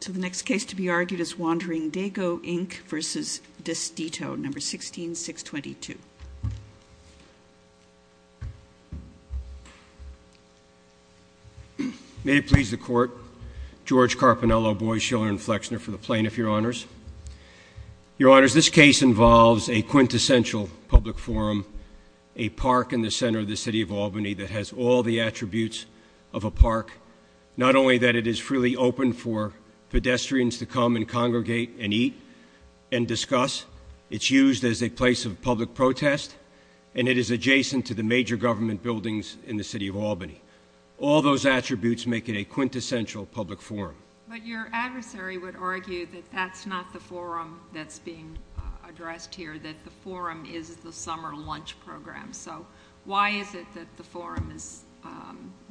So the next case to be argued is Wandering Dago Inc. v. Destito, No. 16-622. May it please the Court, George Carpinello, Boies, Shiller, and Flexner, for the plaintiff, Your Honors. Your Honors, this case involves a quintessential public forum, a park in the center of the city of Albany that has all the attributes of a park, not only that it is freely open for pedestrians to come and congregate and eat and discuss, it's used as a place of public protest, and it is adjacent to the major government buildings in the city of Albany. All those attributes make it a quintessential public forum. But your adversary would argue that that's not the forum that's being addressed here, that the forum is the summer lunch program. So why is it that the forum is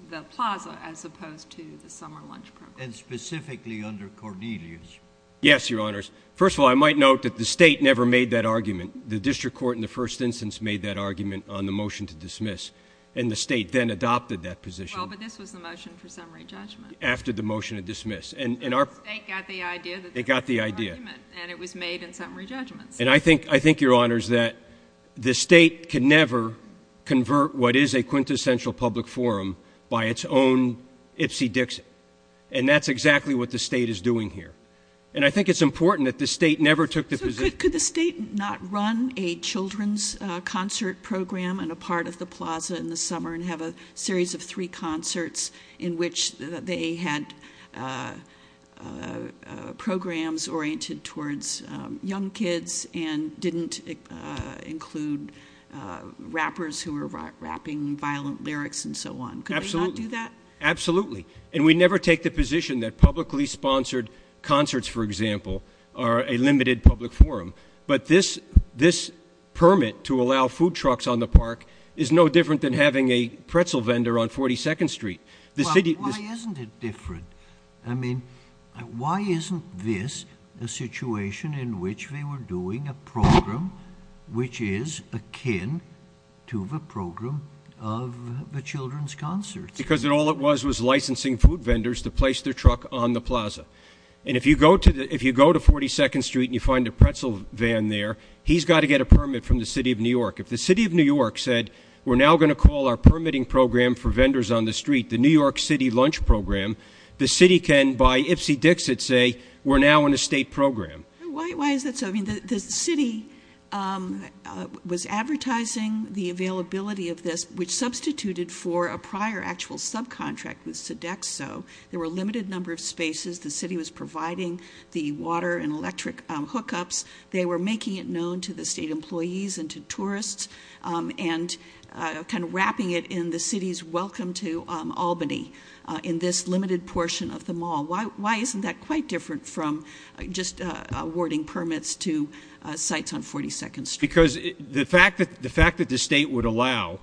the plaza as opposed to the summer lunch program? And specifically under Cornelius. Yes, Your Honors. First of all, I might note that the state never made that argument. The district court in the first instance made that argument on the motion to dismiss, and the state then adopted that position. Well, but this was the motion for summary judgment. After the motion to dismiss. The state got the idea that there was no argument, and it was made in summary judgments. And I think, Your Honors, that the state can never convert what is a quintessential public forum by its own ipsy-dixy. And that's exactly what the state is doing here. And I think it's important that the state never took the position. So could the state not run a children's concert program in a part of the plaza in the summer and have a series of three concerts in which they had programs oriented towards young kids and didn't include rappers who were rapping violent lyrics and so on? Absolutely. Could they not do that? Absolutely. And we never take the position that publicly sponsored concerts, for example, are a limited public forum. But this permit to allow food trucks on the park is no different than having a pretzel vendor on 42nd Street. Why isn't it different? I mean, why isn't this a situation in which they were doing a program which is akin to the program of the children's concerts? Because all it was was licensing food vendors to place their truck on the plaza. And if you go to 42nd Street and you find a pretzel van there, he's got to get a permit from the city of New York. If the city of New York said, we're now going to call our permitting program for vendors on the street, the New York City Lunch Program, the city can, by ipsy-dixit, say, we're now in a state program. Why is that so? I mean, the city was advertising the availability of this, which substituted for a prior actual subcontract with Sodexo. There were a limited number of spaces. The city was providing the water and electric hookups. They were making it known to the state employees and to tourists and kind of wrapping it in the city's welcome to Albany in this limited portion of the mall. Why isn't that quite different from just awarding permits to sites on 42nd Street? Because the fact that the state would allow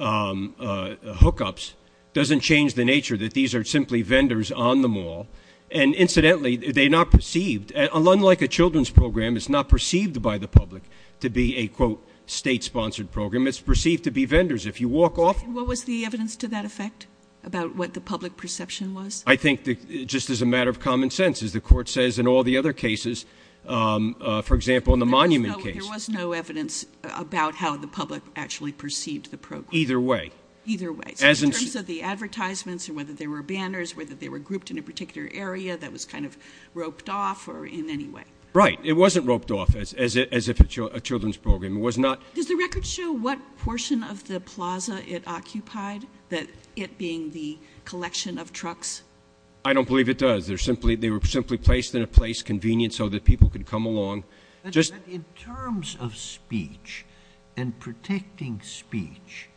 hookups doesn't change the nature that these are simply vendors on the mall. And incidentally, they're not perceived, unlike a children's program, it's not perceived by the public to be a, quote, state-sponsored program. It's perceived to be vendors. If you walk off... What was the evidence to that effect about what the public perception was? I think just as a matter of common sense, as the court says in all the other cases, for example, in the Monument case. There was no evidence about how the public actually perceived the program. Either way. Either way. In terms of the advertisements or whether there were banners, whether they were grouped in a particular area that was kind of roped off or in any way. Right. It wasn't roped off as if it's a children's program. It was not... Does the record show what portion of the plaza it occupied? That it being the collection of trucks? I don't believe it does. They were simply placed in a place convenient so that people could come along. In terms of speech and protecting speech,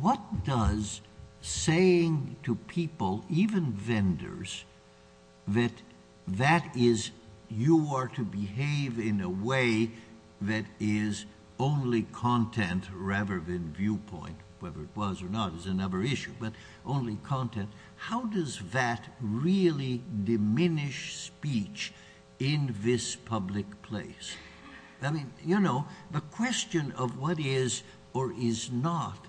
what does saying to people, even vendors, that you are to behave in a way that is only content rather than viewpoint. Whether it was or not is another issue, but only content. How does that really diminish speech in this public place? I mean, you know, the question of what is or is not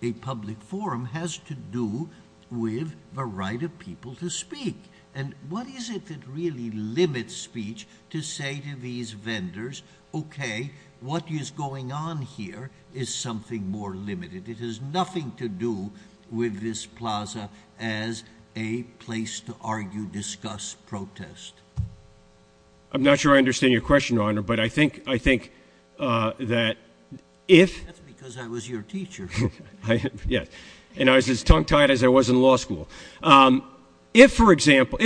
a public forum has to do with the right of people to speak. And what is it that really limits speech to say to these vendors, okay, what is going on here is something more limited. It has nothing to do with this plaza as a place to argue, discuss, protest. I'm not sure I understand your question, Your Honor, but I think that if... That's because I was your teacher. And I was as tongue-tied as I was in law school. If, for example,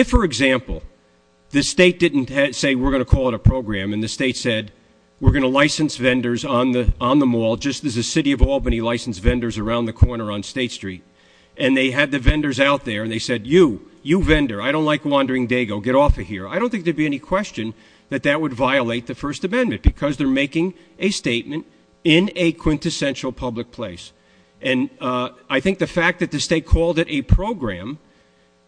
the state didn't say we're going to call it a program and the state said we're going to license vendors on the mall, just as the city of Albany licensed vendors around the corner on State Street, and they had the vendors out there and they said, you, you vendor, I don't like Wandering Dago, get off of here. I don't think there would be any question that that would violate the First Amendment because they're making a statement in a quintessential public place. And I think the fact that the state called it a program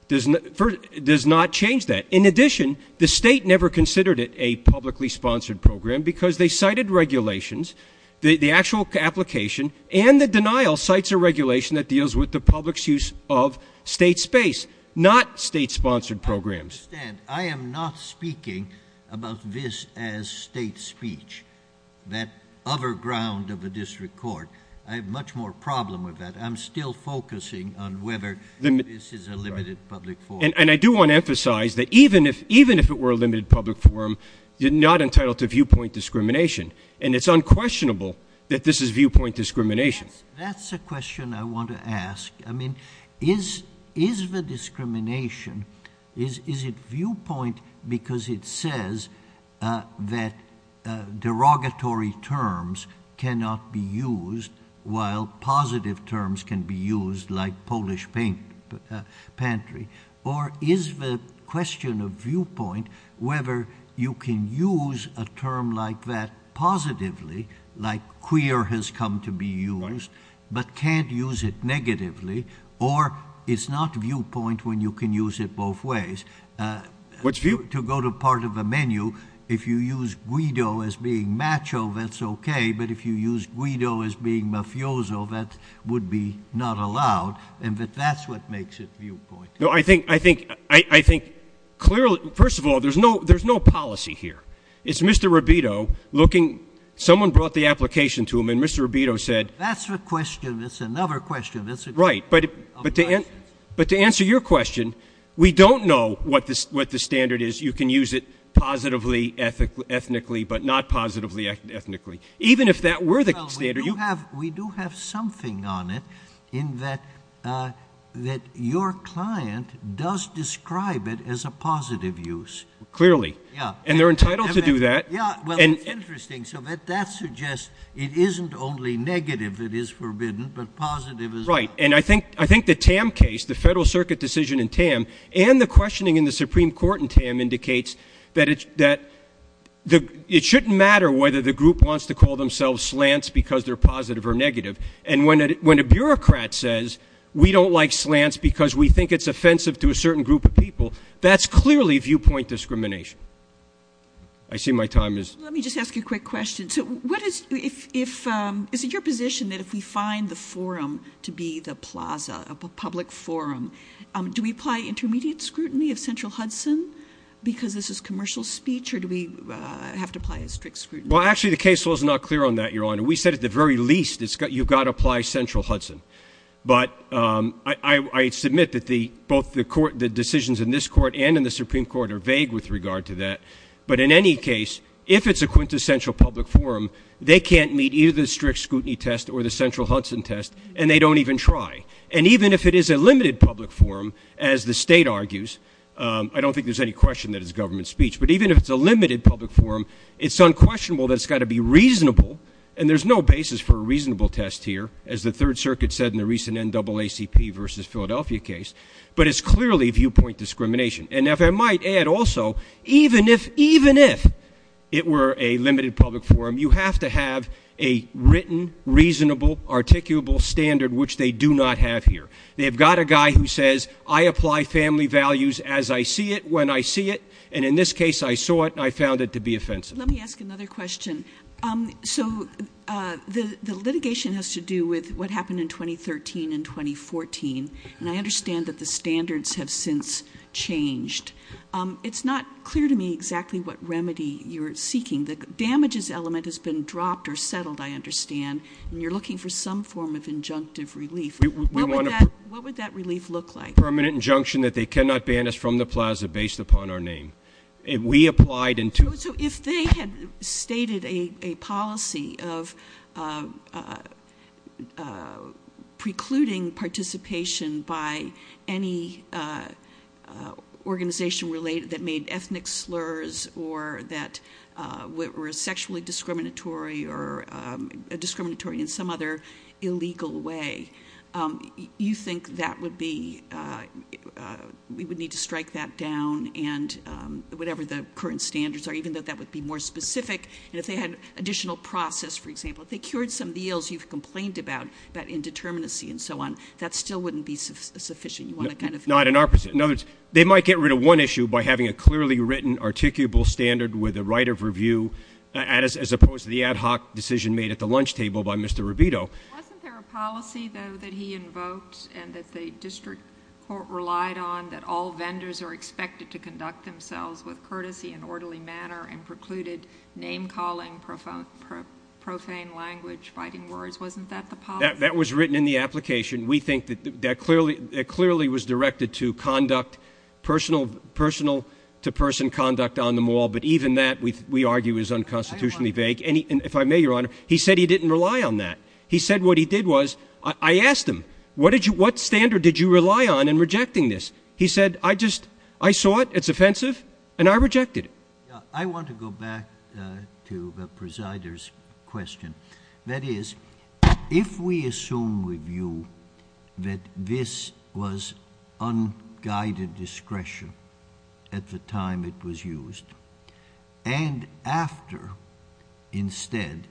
does not change that. In addition, the state never considered it a publicly sponsored program because they cited regulations, the actual application, and the denial cites a regulation that deals with the public's use of state space, not state-sponsored programs. I understand. I am not speaking about this as state speech, that other ground of the district court. I have much more problem with that. I'm still focusing on whether this is a limited public forum. And I do want to emphasize that even if it were a limited public forum, you're not entitled to viewpoint discrimination. And it's unquestionable that this is viewpoint discrimination. That's a question I want to ask. I mean, is the discrimination, is it viewpoint because it says that derogatory terms cannot be used while positive terms can be used like Polish pantry? Or is the question of viewpoint whether you can use a term like that positively, like queer has come to be used, but can't use it negatively. Or it's not viewpoint when you can use it both ways. What's viewpoint? To go to part of the menu, if you use guido as being macho, that's okay. But if you use guido as being mafioso, that would be not allowed. And that's what makes it viewpoint. No, I think, I think, I think clearly, first of all, there's no, there's no policy here. It's Mr. Robito looking, someone brought the application to him and Mr. Robito said. That's a question, that's another question. Right. But to answer your question, we don't know what the standard is. You can use it positively ethnically, but not positively ethnically. Even if that were the standard. We do have something on it in that your client does describe it as a positive use. Clearly. Yeah. He has to do that. Yeah. Well, it's interesting. So that suggests it isn't only negative that is forbidden, but positive as well. Right. And I think, I think the Tam case, the Federal Circuit decision in Tam, and the questioning in the Supreme Court in Tam indicates that it's, that the, it shouldn't matter whether the group wants to call themselves slants because they're positive or negative. And when, when a bureaucrat says we don't like slants because we think it's offensive to a certain group of people, that's clearly viewpoint discrimination. I see my time is. Let me just ask you a quick question. So what is, if, if, is it your position that if we find the forum to be the plaza, a public forum, do we apply intermediate scrutiny of Central Hudson because this is commercial speech or do we have to apply a strict scrutiny? Well, actually the case law is not clear on that, Your Honor. We said at the very least it's got, you've got to apply Central Hudson. But I, I, I submit that the, both the court, the decisions in this court and in the Supreme Court are vague with regard to that. But in any case, if it's a quintessential public forum, they can't meet either the strict scrutiny test or the Central Hudson test, and they don't even try. And even if it is a limited public forum, as the state argues, I don't think there's any question that it's government speech. But even if it's a limited public forum, it's unquestionable that it's got to be reasonable. And there's no basis for a reasonable test here, as the Third Circuit said in the recent NAACP versus Philadelphia case. But it's clearly viewpoint discrimination. And if I might add also, even if, even if it were a limited public forum, you have to have a written, reasonable, articulable standard, which they do not have here. They've got a guy who says, I apply family values as I see it, when I see it. And in this case, I saw it, and I found it to be offensive. Let me ask another question. So the litigation has to do with what happened in 2013 and 2014. And I understand that the standards have since changed. It's not clear to me exactly what remedy you're seeking. The damages element has been dropped or settled, I understand. And you're looking for some form of injunctive relief. What would that relief look like? We want a permanent injunction that they cannot ban us from the plaza based upon our name. If we applied in two... So if they had stated a policy of precluding participation by any organization related that made ethnic slurs or that were sexually discriminatory or discriminatory in some other illegal way, you think that would be, we would need to strike that down and whatever the current standards are, even though that would be more specific. And if they had additional process, for example, if they cured some of the ills you've complained about, that indeterminacy and so on, that still wouldn't be sufficient. You want to kind of... Not in our... In other words, they might get rid of one issue by having a clearly written, articulable standard with a right of review as opposed to the ad hoc decision made at the lunch table by Mr. Rubito. Wasn't there a policy, though, that he invoked and that the district court relied on, that all vendors are expected to conduct themselves with courtesy and orderly manner and precluded name-calling, profane language, fighting words? Wasn't that the policy? That was written in the application. We think that clearly was directed to conduct personal to person conduct on the mall, but even that, we argue, is unconstitutionally vague. And if I may, Your Honor, he said he didn't rely on that. He said what he did was, I asked him, what standard did you rely on in rejecting this? He said, I just, I saw it, it's offensive, and I rejected it. I want to go back to the presider's question. That is, if we assume with you that this was unguided discretion at the time it was used, and after, instead,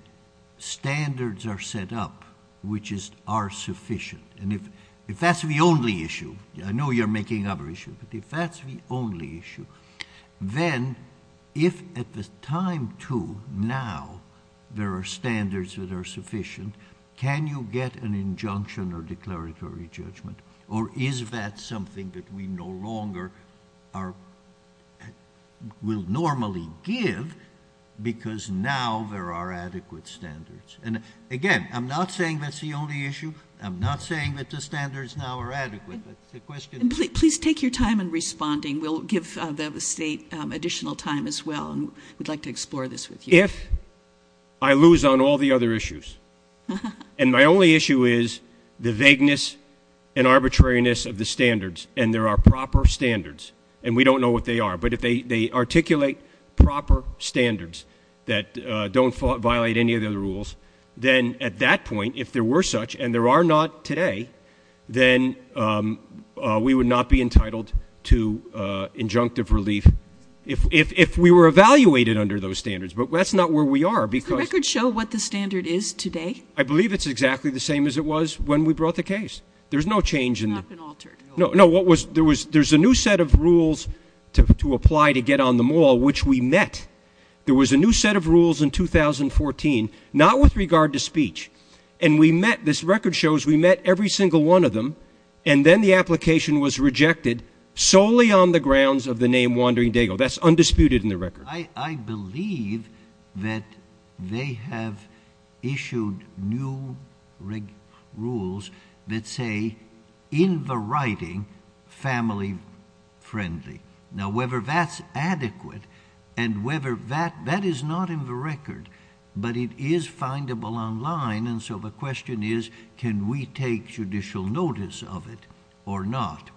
standards are set up which are sufficient, if that's the only issue, I know you're making other issues, but if that's the only issue, then, if at the time, too, now, there are standards that are sufficient, can you get an injunction or declaratory judgment? Or is that something that we no longer are, will normally give because now there are adequate standards? And, again, I'm not saying that's the only issue. I'm not saying that the standards now are adequate, but the question is. Please take your time in responding. We'll give the State additional time as well. We'd like to explore this with you. If I lose on all the other issues, and my only issue is the vagueness and arbitrariness of the standards, and there are proper standards, and we don't know what they are, but if they articulate proper standards that don't violate any of the other rules, then, at that point, if there were such, and there are not today, then we would not be entitled to injunctive relief if we were evaluated under those standards. But that's not where we are because. Does the record show what the standard is today? I believe it's exactly the same as it was when we brought the case. There's no change in. It's not been altered. No. No. There's a new set of rules to apply to get on the mall, which we met. There was a new set of rules in 2014, not with regard to speech, and we met, this record shows we met every single one of them, and then the application was rejected solely on the grounds of the name Wandering Dago. That's undisputed in the record. I believe that they have issued new rules that say, in the writing, family friendly. Now, whether that's adequate and whether that, that is not in the record, but it is findable online, and so the question is, can we take judicial notice of it or not?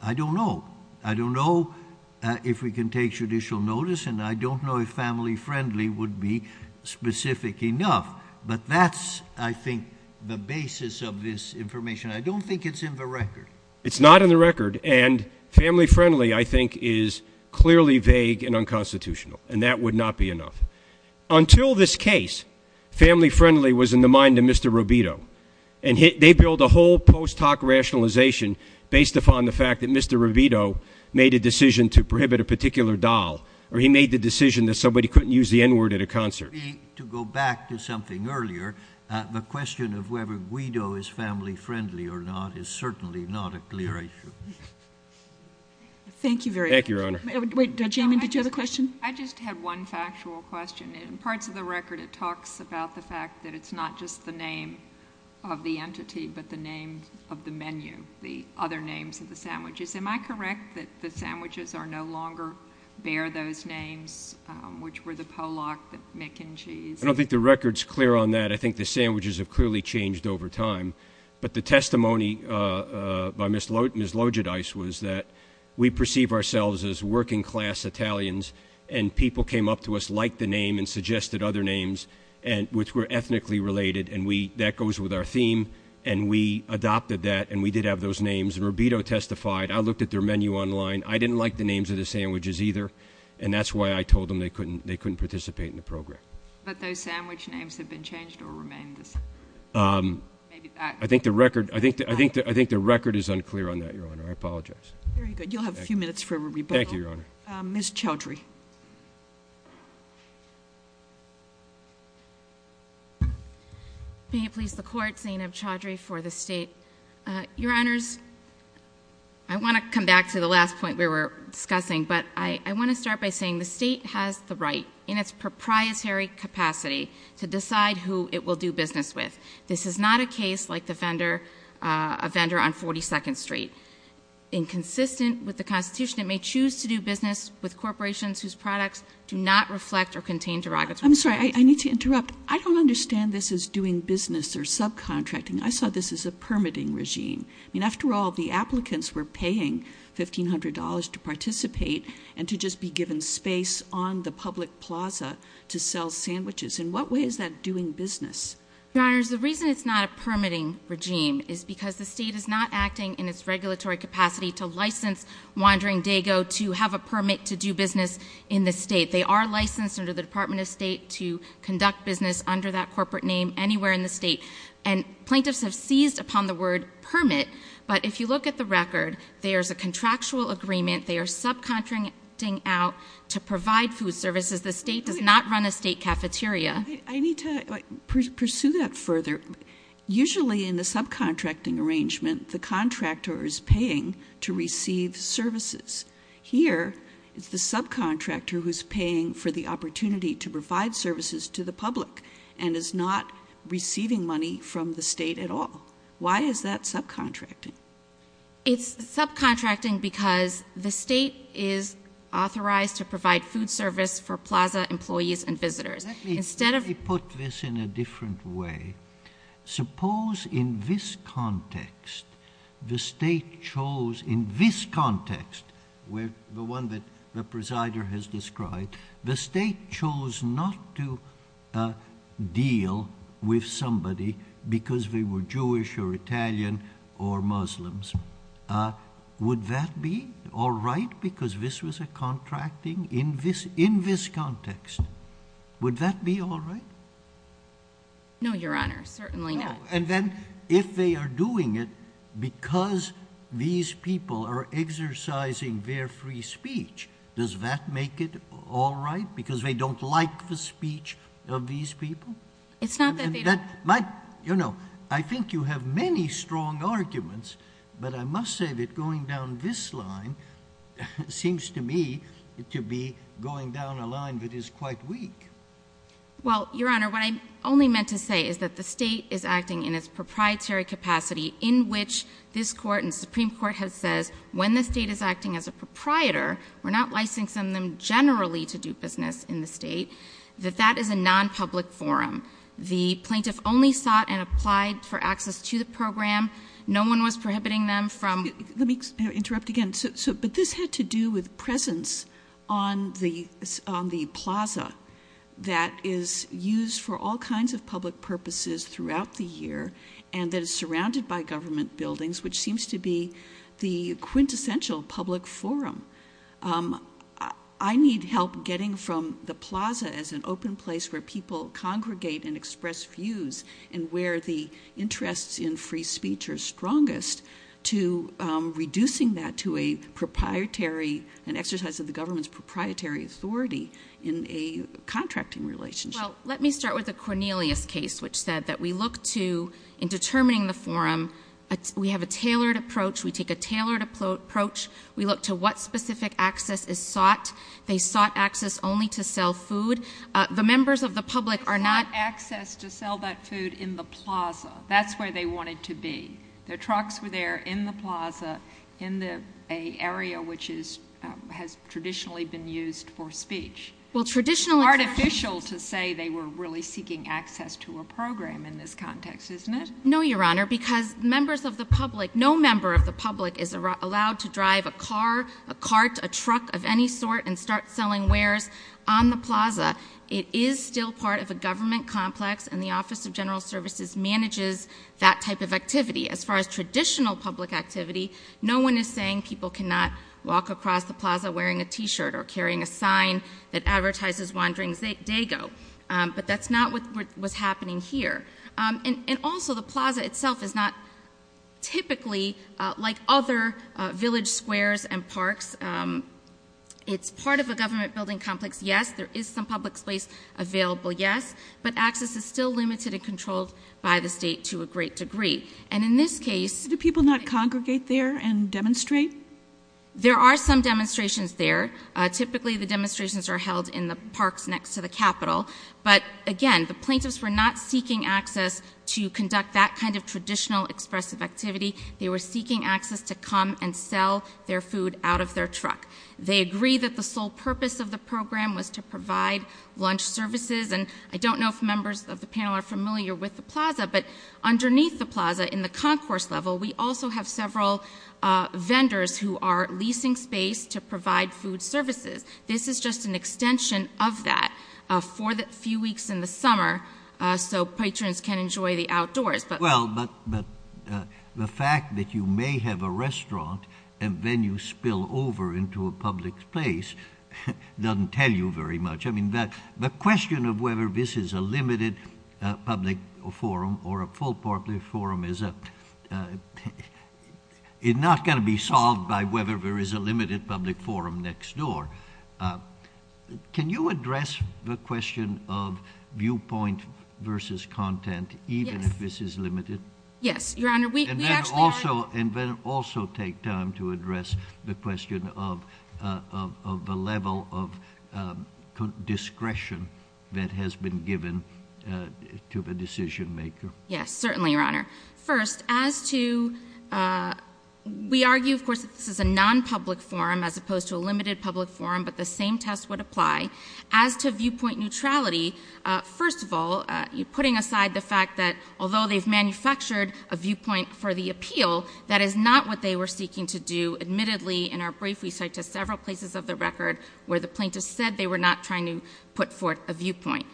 I don't know. I don't know if we can take judicial notice, and I don't know if family friendly would be specific enough, but that's, I think, the basis of this information. I don't think it's in the record. It's not in the record, and family friendly, I think, is clearly vague and unconstitutional, and that would not be enough. Until this case, family friendly was in the mind of Mr. Rubito, and they built a whole post hoc rationalization based upon the fact that Mr. Rubito made a decision to prohibit a particular doll, or he made the decision that somebody couldn't use the n-word at a concert. To go back to something earlier, the question of whether Guido is family friendly or not is certainly not a clear issue. Thank you very much. Thank you, Your Honor. Wait, did you have a question? I just had one factual question. In parts of the record, it talks about the fact that it's not just the name of the entity, but the name of the menu, the other names of the sandwiches. Am I correct that the sandwiches no longer bear those names, which were the Pollock, the McN Cheese? I don't think the record's clear on that. I think the sandwiches have clearly changed over time, but the testimony by Ms. Lodgedyce was that we perceive ourselves as working class Italians, and people came up to us, liked the name, and suggested other names which were ethnically related, and that goes with our theme, and we adopted that, and we did have those names, and Rubito testified. I looked at their menu online. I didn't like the names of the sandwiches either, and that's why I told them they couldn't participate in the program. But those sandwich names have been changed or remain the same? I think the record is unclear on that, Your Honor. I apologize. Very good. You'll have a few minutes for a rebuttal. Thank you, Your Honor. Ms. Chaudhry. May it please the Court, Zainab Chaudhry for the State. Your Honors, I want to come back to the last point we were discussing, but I want to start by saying the State has the right, in its proprietary capacity, to decide who it will do business with. This is not a case like a vendor on 42nd Street inconsistent with the Constitution. It may choose to do business with corporations whose products do not reflect or contain derogatory... I'm sorry. I need to interrupt. I don't understand this as doing business or subcontracting. I saw this as a permitting regime. I mean, after all, the applicants were paying $1,500 to participate and to just be given space on the public plaza to sell sandwiches. In what way is that doing business? Your Honors, the reason it's not a permitting regime is because the State is not acting in its regulatory capacity to license Wandering Dago to have a permit to do business in the State. They are licensed under the Department of State to conduct business under that corporate name anywhere in the State. And plaintiffs have seized upon the word permit, but if you look at the record, there's a contractual agreement. They are subcontracting out to provide food services. The State does not run a State cafeteria. I need to pursue that further. Usually in the subcontracting arrangement, the contractor is paying to receive services. Here, it's the subcontractor who's paying for the opportunity to provide services to the public and is not receiving money from the State at all. Why is that subcontracting? It's subcontracting because the State is authorized to provide food service for plaza employees and visitors. Let me put this in a different way. Suppose in this context, the State chose in this context, the one that the presider has described, the State chose not to deal with somebody because they were Jewish or Italian or Muslims. Would that be all right because this was a contracting in this context? Would that be all right? No, Your Honor, certainly not. And then if they are doing it because these people are exercising their free speech, does that make it all right because they don't like the speech of these people? It's not that they don't. I think you have many strong arguments, but I must say that going down this line seems to me to be going down a line that is quite weak. Well, Your Honor, what I only meant to say is that the State is acting in its proprietary capacity in which this Court and Supreme Court has said when the State is acting as a proprietor, we're not licensing them generally to do business in the State, that that is a nonpublic forum. The plaintiff only sought and applied for access to the program. No one was prohibiting them from — Let me interrupt again. But this had to do with presence on the plaza that is used for all kinds of public purposes throughout the year and that is surrounded by government buildings, which seems to be the quintessential public forum. I need help getting from the plaza as an open place where people congregate and express views and where the interests in free speech are strongest to reducing that to an exercise of the government's proprietary authority in a contracting relationship. Well, let me start with the Cornelius case, which said that we look to, in determining the forum, we have a tailored approach. We take a tailored approach. We look to what specific access is sought. They sought access only to sell food. The members of the public are not — They sought access to sell that food in the plaza. That's where they wanted to be. Their trucks were there in the plaza in an area which has traditionally been used for speech. It's artificial to say they were really seeking access to a program in this context, isn't it? No, Your Honor, because members of the public, no member of the public is allowed to drive a car, a cart, a truck of any sort and start selling wares on the plaza. It is still part of a government complex and the Office of General Services manages that type of activity. As far as traditional public activity, no one is saying people cannot walk across the plaza wearing a T-shirt or carrying a sign that advertises Wandering Dago. But that's not what was happening here. And also the plaza itself is not typically like other village squares and parks. It's part of a government building complex, yes. There is some public space available, yes. But access is still limited and controlled by the state to a great degree. And in this case — Do people not congregate there and demonstrate? There are some demonstrations there. Typically the demonstrations are held in the parks next to the Capitol. But again, the plaintiffs were not seeking access to conduct that kind of traditional expressive activity. They were seeking access to come and sell their food out of their truck. They agree that the sole purpose of the program was to provide lunch services. And I don't know if members of the panel are familiar with the plaza, but underneath the plaza in the concourse level we also have several vendors who are leasing space to provide food services. This is just an extension of that for the few weeks in the summer so patrons can enjoy the outdoors. Well, but the fact that you may have a restaurant and then you spill over into a public place doesn't tell you very much. I mean, the question of whether this is a limited public forum or a full public forum is not going to be solved by whether there is a limited public forum next door. Can you address the question of viewpoint versus content even if this is limited? Yes, Your Honor. And then also take time to address the question of the level of discretion that has been given to the decision maker. Yes, certainly, Your Honor. First, as to, we argue of course that this is a non-public forum as opposed to a limited public forum, but the same test would apply. As to viewpoint neutrality, first of all, putting aside the fact that although they've manufactured a viewpoint for the appeal, that is not what they were seeking to do. Admittedly, in our brief we cite to several places of the record where the plaintiff said they were not trying to put forth a viewpoint.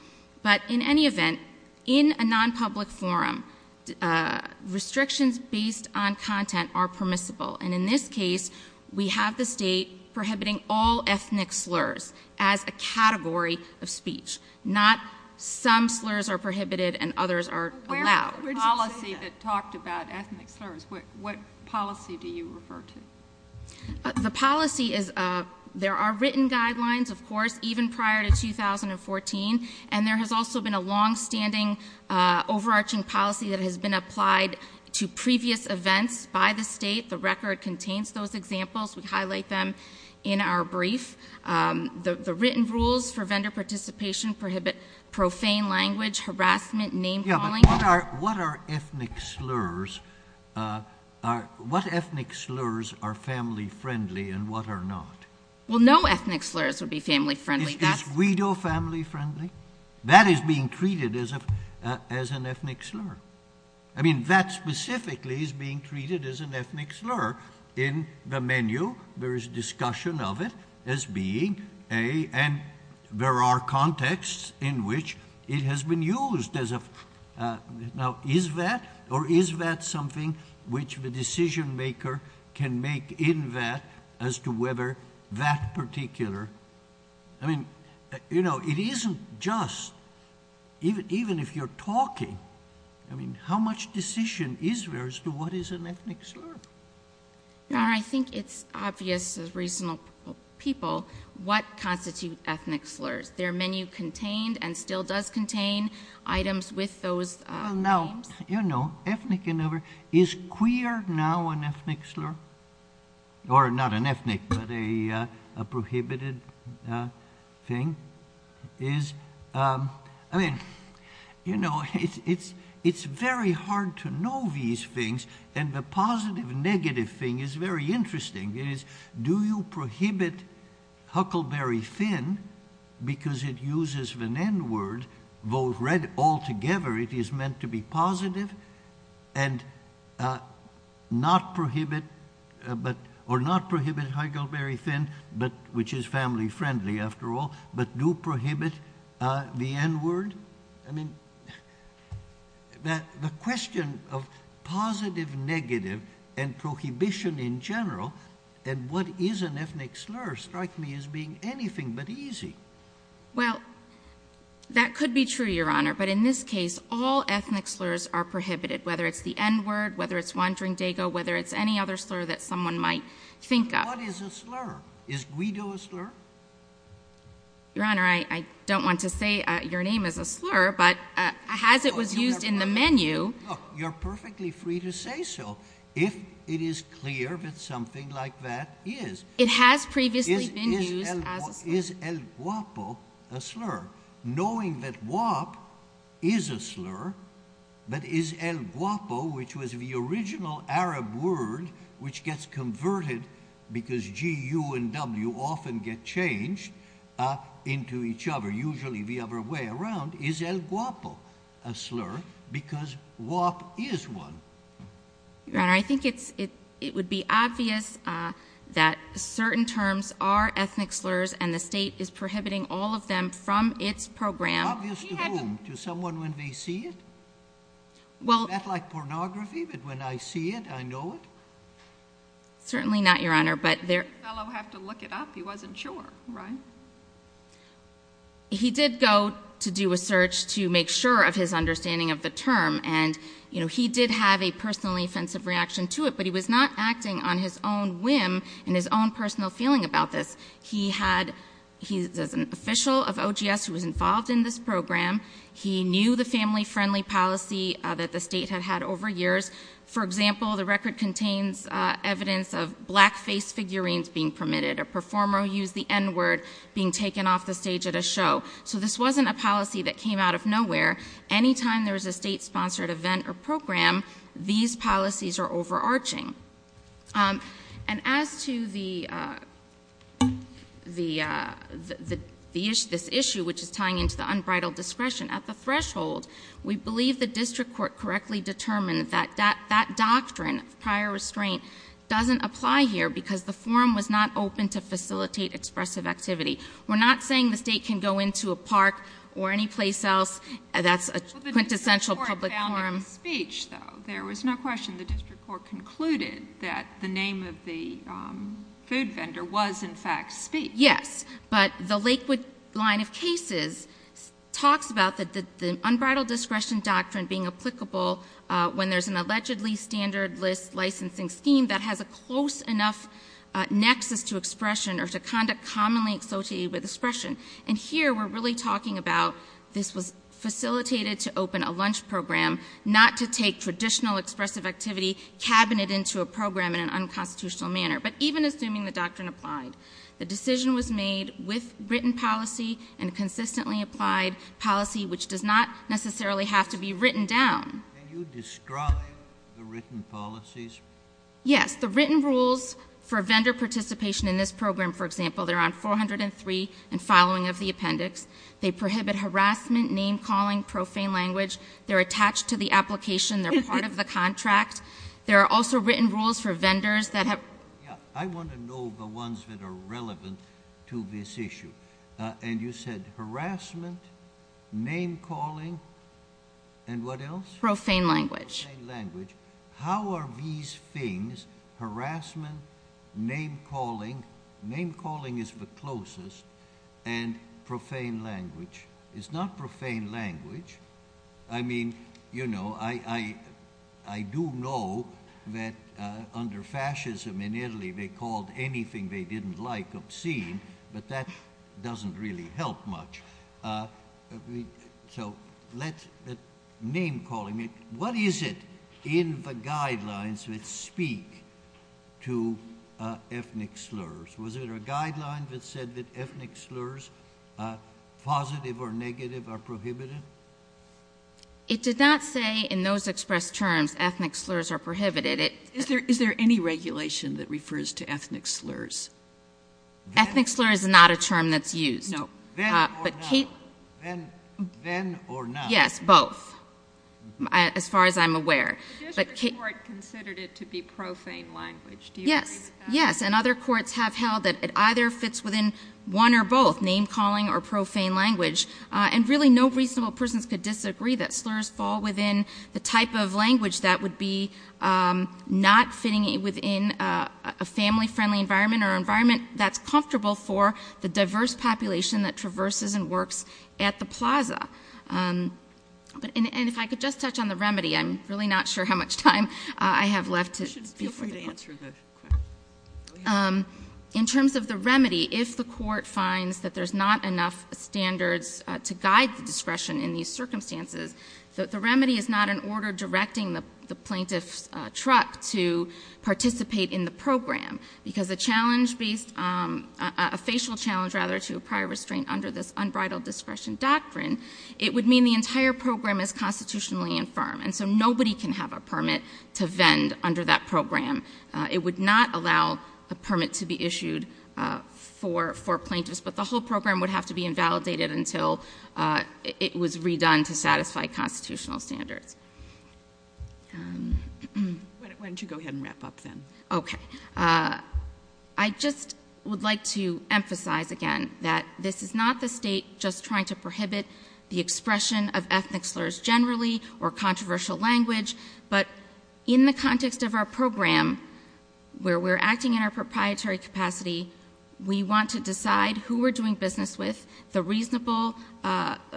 But in any event, in a non-public forum, restrictions based on content are permissible. And in this case, we have the state prohibiting all ethnic slurs as a category of speech. Not some slurs are prohibited and others are allowed. Where is the policy that talked about ethnic slurs? What policy do you refer to? The policy is, there are written guidelines, of course, even prior to 2014. And there has also been a long-standing, overarching policy that has been applied to previous events by the state. The record contains those examples. We highlight them in our brief. The written rules for vendor participation prohibit profane language, harassment, name-calling. What are ethnic slurs? What ethnic slurs are family-friendly and what are not? Well, no ethnic slurs would be family-friendly. Is widow family-friendly? That is being treated as an ethnic slur. I mean, that specifically is being treated as an ethnic slur in the menu. There is discussion of it as being, and there are contexts in which it has been used. Now, is that or is that something which the decision-maker can make in that as to whether that particular, I mean, you know, it isn't just, even if you're talking, I mean, how much decision is there as to what is an ethnic slur? I think it's obvious to reasonable people what constitute ethnic slurs. Their menu contained and still does contain items with those names. Well, now, you know, ethnic and other, is queer now an ethnic slur? Or not an ethnic, but a prohibited thing? Is, I mean, you know, it's very hard to know these things and the positive and negative thing is very interesting. It is, do you prohibit Huckleberry Finn because it uses the N word, vote red altogether, it is meant to be positive, and not prohibit, or not prohibit Huckleberry Finn, which is family-friendly, after all, but do prohibit the N word? I mean, the question of positive, negative, and prohibition in general, and what is an ethnic slur strikes me as being anything but easy. Well, that could be true, Your Honor, but in this case, all ethnic slurs are prohibited, whether it's the N word, whether it's Wandering Dago, whether it's any other slur that someone might think of. What is a slur? Is guido a slur? Your Honor, I don't want to say your name is a slur, but as it was used in the menu... Look, you're perfectly free to say so if it is clear that something like that is. It has previously been used as a slur. Is el guapo a slur? Knowing that guapo is a slur, but is el guapo, which was the original Arab word which gets converted because G, U, and W often get changed into each other, usually the other way around, is el guapo a slur because guap is one? Your Honor, I think it would be obvious that certain terms are ethnic slurs and the state is prohibiting all of them from its program. It's obvious to whom? To someone when they see it? Is that like pornography, that when I see it, I know it? Certainly not, Your Honor. Didn't the fellow have to look it up? He wasn't sure, right? He did go to do a search to make sure of his understanding of the term. He did have a personally offensive reaction to it, but he was not acting on his own whim and his own personal feeling about this. He's an official of OGS who was involved in this program. He knew the family-friendly policy that the state had had over years. For example, the record contains evidence of black-faced figurines being permitted, a performer who used the N-word being taken off the stage at a show. So this wasn't a policy that came out of nowhere. Anytime there was a state-sponsored event or program, these policies are overarching. And as to this issue, which is tying into the unbridled discretion, at the threshold, we believe the district court correctly determined that that doctrine of prior restraint doesn't apply here because the forum was not open to facilitate expressive activity. We're not saying the state can go into a park or any place else. That's a quintessential public forum. Well, the district court found it in speech, though. There was no question the district court concluded that the name of the food vendor was, in fact, speech. Yes, but the Lakewood line of cases talks about the unbridled discretion doctrine being applicable when there's an allegedly standard list licensing scheme that has a close enough nexus to expression or to conduct commonly associated with expression. And here we're really talking about this was facilitated to open a lunch program, not to take traditional expressive activity, cabinet into a program in an unconstitutional manner. But even assuming the doctrine applied, the decision was made with written policy and consistently applied policy, which does not necessarily have to be written down. Can you describe the written policies? Yes. The written rules for vendor participation in this program, for example, they're on 403 and following of the appendix. They prohibit harassment, name-calling, profane language. They're attached to the application. They're part of the contract. There are also written rules for vendors that have... I want to know the ones that are relevant to this issue. And you said harassment, name-calling, and what else? Profane language. Profane language. How are these things, harassment, name-calling, name-calling is the closest, and profane language. It's not profane language. Obviously, they called anything they didn't like obscene, but that doesn't really help much. So let name-calling... What is it in the guidelines that speak to ethnic slurs? Was there a guideline that said that ethnic slurs, positive or negative, are prohibited? It did not say in those expressed terms ethnic slurs are prohibited. Is there any regulation that refers to ethnic slurs? Ethnic slur is not a term that's used. Then or now? Yes, both, as far as I'm aware. The district court considered it to be profane language. Yes, and other courts have held that it either fits within one or both, name-calling or profane language. And really, no reasonable persons could disagree that slurs fall within the type of language that would be not fitting within a family-friendly environment or an environment that's comfortable for the diverse population that traverses and works at the plaza. And if I could just touch on the remedy, I'm really not sure how much time I have left. You should feel free to answer the question. In terms of the remedy, if the court finds that there's not enough standards to guide the discretion in these circumstances, the remedy is not an order directing the plaintiff's truck to participate in the program. Because a challenge based, a facial challenge, rather, to a prior restraint under this unbridled discretion doctrine, it would mean the entire program is constitutionally infirm. And so nobody can have a permit to vend under that program. It would not allow a permit to be issued for plaintiffs. But the whole program would have to be invalidated until it was redone to satisfy constitutional standards. Why don't you go ahead and wrap up then? Okay. I just would like to emphasize again that this is not the state just trying to prohibit the expression of ethnic slurs generally or controversial language. But in the context of our program, where we're acting in our proprietary capacity, we want to decide who we're doing business with, and the whole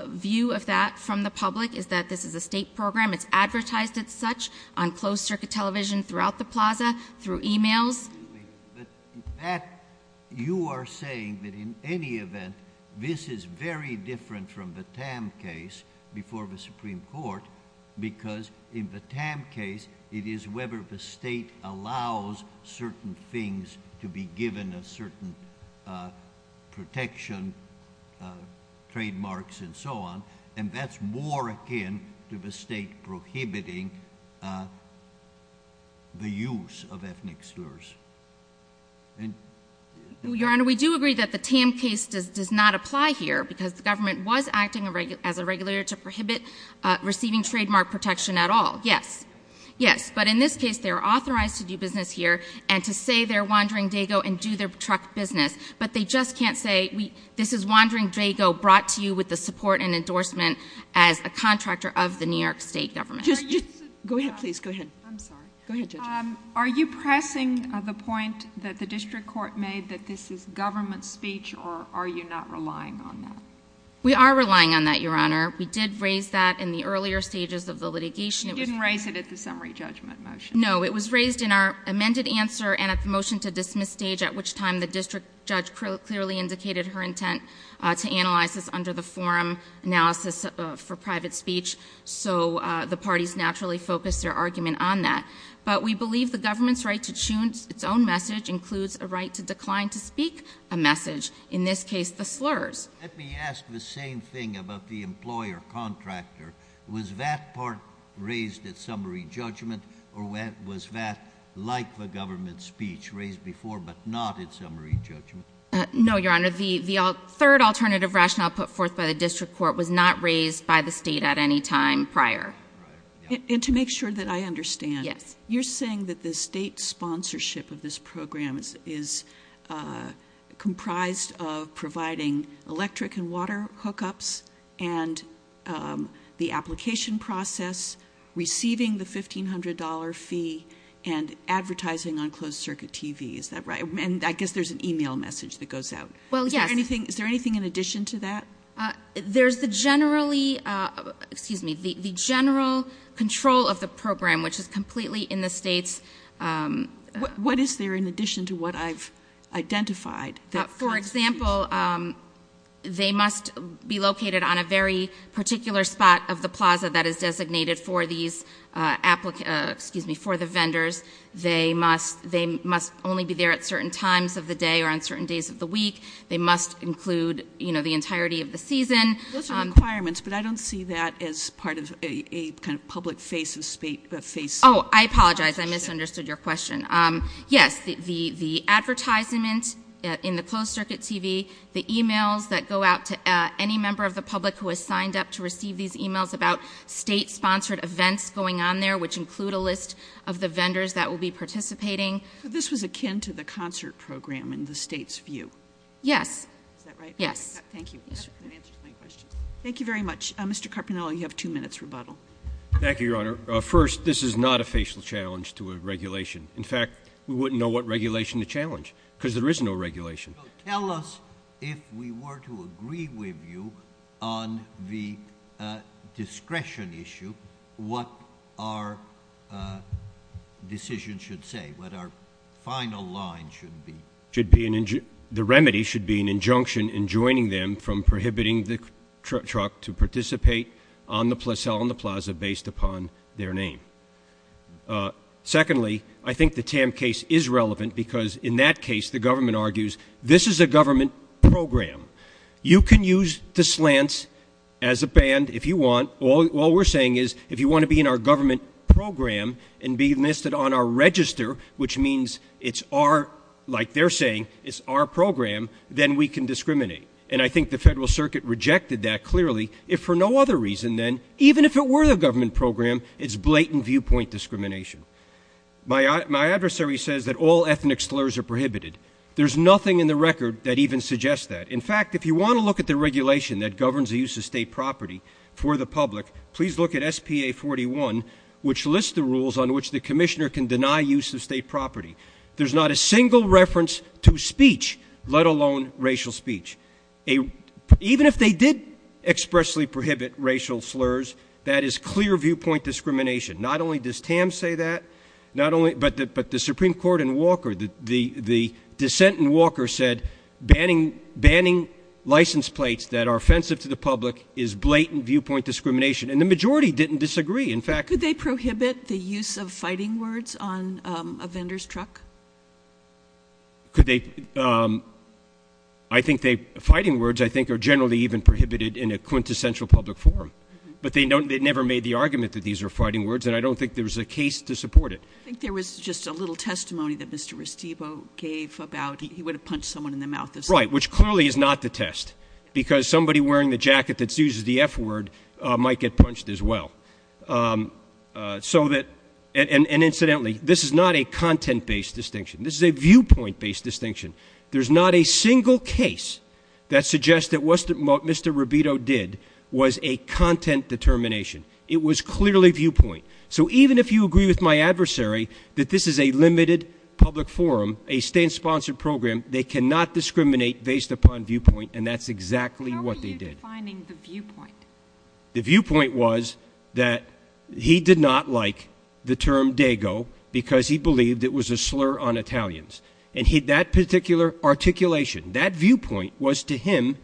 view of that from the public is that this is a state program. It's advertised as such on closed-circuit television throughout the plaza, through emails. But that, you are saying that in any event, this is very different from the Tam case before the Supreme Court, because in the Tam case, it is whether the state allows certain things to be given a certain protection, trademarks and so on. And that's more akin to the state prohibiting the use of ethnic slurs. Your Honor, we do agree that the Tam case does not apply here because the government was acting as a regulator to prohibit receiving trademark protection at all. Yes. Yes. But in this case, they are authorized to do business here and to say they're Wandering Dago and do their truck business. But they just can't say, this is Wandering Dago brought to you with the support and endorsement as a contractor of the New York State government. Go ahead, please. Go ahead. I'm sorry. Go ahead, Judge. Are you pressing the point that the district court made that this is government speech, or are you not relying on that? We are relying on that, Your Honor. We did raise that in the earlier stages of the litigation. You didn't raise it at the summary judgment motion. No, it was raised in our amended answer and at the motion to dismiss stage, at which time the district judge clearly indicated her intent to analyze this under the forum analysis for private speech, so the parties naturally focused their argument on that. But we believe the government's right to choose its own message includes a right to decline to speak a message, in this case, the slurs. Let me ask the same thing about the employer-contractor. Was that part raised at summary judgment, or was that like the government's speech, raised before but not at summary judgment? No, Your Honor. The third alternative rationale put forth by the district court was not raised by the state at any time prior. And to make sure that I understand. Yes. You're saying that the state sponsorship of this program is comprised of providing electric and water hookups and the application process, receiving the $1,500 fee, and advertising on closed-circuit TV. Is that right? And I guess there's an e-mail message that goes out. Well, yes. Is there anything in addition to that? There's the general control of the program, which is completely in the state's... What is there in addition to what I've identified? For example, they must be located on a very particular spot of the plaza that is designated for the vendors. They must only be there at certain times of the day or on certain days of the week. They must include the entirety of the season. Those are requirements, but I don't see that as part of a kind of public face-to-face... Oh, I apologize. I misunderstood your question. Yes, the advertisement in the closed-circuit TV, the e-mails that go out to any member of the public who has signed up to receive these e-mails about state-sponsored events going on there, which include a list of the vendors that will be participating. This was akin to the concert program in the state's view. Yes. Is that right? Yes. Thank you. Thank you very much. Mr. Carpinello, you have two minutes rebuttal. Thank you, Your Honor. First, this is not a facial challenge to a regulation. In fact, we wouldn't know what regulation to challenge because there is no regulation. Tell us, if we were to agree with you on the discretion issue, what our decision should say, what our final line should be. The remedy should be an injunction in joining them from prohibiting the truck to participate on the plaza based upon their name. Secondly, I think the Tam case is relevant because in that case, the government argues, this is a government program. You can use the slants as a band if you want. All we're saying is, if you want to be in our government program and be listed on our register, which means it's our, like they're saying, it's our program, then we can discriminate. And I think the Federal Circuit rejected that clearly if for no other reason than even if it were the government program, it's blatant viewpoint discrimination. My adversary says that all ethnic slurs are prohibited. There's nothing in the record that even suggests that. In fact, if you want to look at the regulation that governs the use of state property for the public, please look at SPA 41, which lists the rules on which the commissioner can deny use of state property. There's not a single reference to speech, let alone racial speech. Even if they did expressly prohibit racial slurs, that is clear viewpoint discrimination. Not only does Tam say that, but the Supreme Court in Walker, the dissent in Walker said banning license plates that are offensive to the public is blatant viewpoint discrimination. And the majority didn't disagree. Could they prohibit the use of fighting words on a vendor's truck? I think fighting words are generally even prohibited in a quintessential public forum. I mean, they never made the argument that these are fighting words, and I don't think there's a case to support it. I think there was just a little testimony that Mr. Restivo gave about he would have punched someone in the mouth. Right, which clearly is not the test, because somebody wearing the jacket that uses the F word might get punched as well. And incidentally, this is not a content-based distinction. This is a viewpoint-based distinction. There's not a single case that suggests that what Mr. Rubito did was a content determination. It was clearly viewpoint. So even if you agree with my adversary that this is a limited public forum, a state-sponsored program, they cannot discriminate based upon viewpoint, and that's exactly what they did. How are you defining the viewpoint? The viewpoint was that he did not like the term Dago because he believed it was a slur on Italians. And that particular articulation, that viewpoint, was to him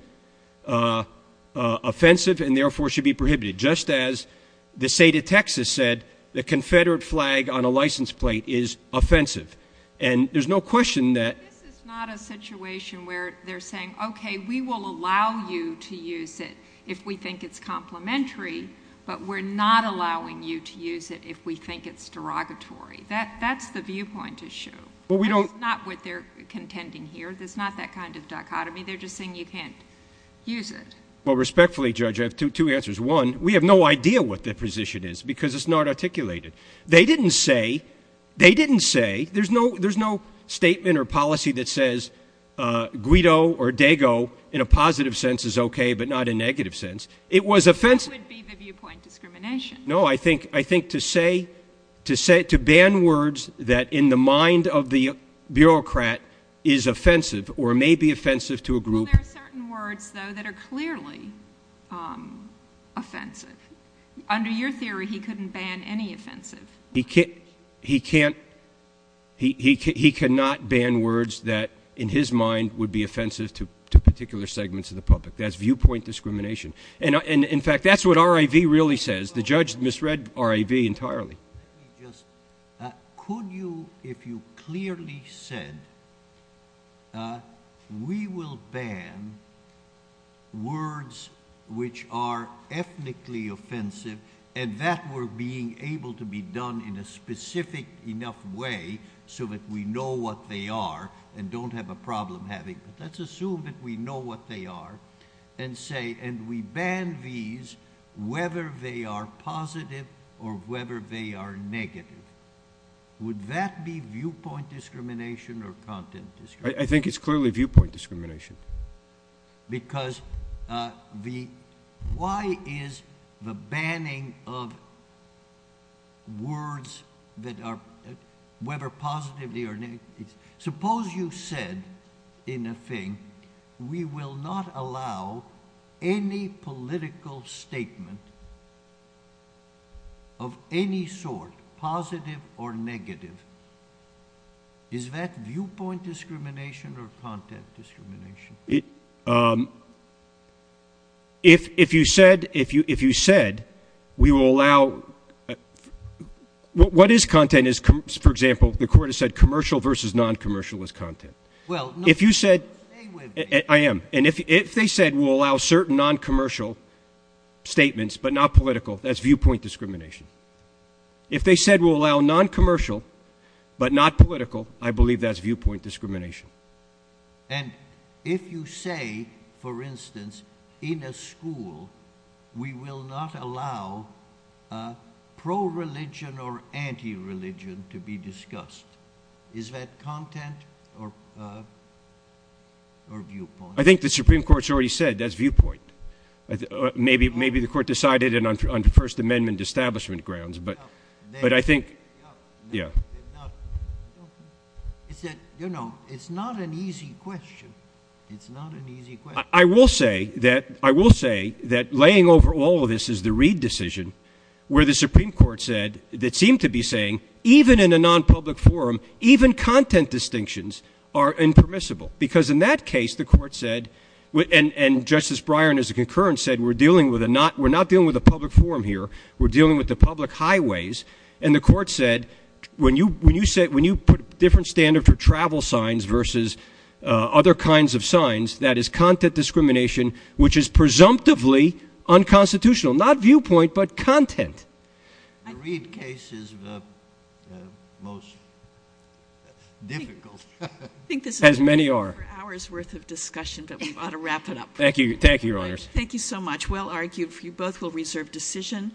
offensive and therefore should be prohibited, just as the state of Texas said the Confederate flag on a license plate is offensive. And there's no question that... This is not a situation where they're saying, okay, we will allow you to use it if we think it's complimentary, but we're not allowing you to use it if we think it's derogatory. That's the viewpoint issue. That's not what they're contending here. It's not that kind of dichotomy. They're just saying you can't use it. Well, respectfully, Judge, I have two answers. One, we have no idea what the position is because it's not articulated. They didn't say, they didn't say, there's no statement or policy that says Guido or Dago in a positive sense is okay but not in a negative sense. It was offensive. What would be the viewpoint discrimination? No, I think to say, to ban words that in the mind of the bureaucrat is offensive or may be offensive to a group... Well, there are certain words, though, that are clearly offensive. Under your theory, he couldn't ban any offensive. He can't... He cannot ban words that in his mind would be offensive to particular segments of the public. That's viewpoint discrimination. And, in fact, that's what RIV really says. The judge misread RIV entirely. Could you, if you clearly said, we will ban words which are ethnically offensive and that were being able to be done in a specific enough way so that we know what they are and don't have a problem having, but let's assume that we know what they are and say and we ban these whether they are positive or whether they are negative. Would that be viewpoint discrimination or content discrimination? I think it's clearly viewpoint discrimination. Because the... Why is the banning of words that are whether positively or negatively... Suppose you said in a thing, we will not allow any political statement of any sort, positive or negative. Is that viewpoint discrimination or content discrimination? If you said we will allow... What is content is, for example, the court has said commercial versus non-commercial is content. Well... If you said... Stay with me. I am. And if they said we'll allow certain non-commercial statements but not political, that's viewpoint discrimination. If they said we'll allow non-commercial but not political, I believe that's viewpoint discrimination. And if you say, for instance, in a school, we will not allow pro-religion or anti-religion to be discussed. Is that content or viewpoint? I think the Supreme Court has already said that's viewpoint. Maybe the court decided it on First Amendment establishment grounds. But I think... Yeah. You know, it's not an easy question. I will say that laying over all of this is the Reid decision where the Supreme Court said that seemed to be saying even in a non-public forum, even content distinctions are impermissible because in that case, the court said... And Justice Breyer, as a concurrence, said we're dealing with a not... We're not dealing with a public forum here. We're dealing with the public highways. And the court said when you put a different standard for travel signs versus other kinds of signs, that is content discrimination which is presumptively unconstitutional, not viewpoint but content. The Reid case is the most difficult. As many are. I think this is over an hour's worth of discussion but we ought to wrap it up. Thank you. Thank you, Your Honors. Thank you so much. Well argued. You both will reserve decision.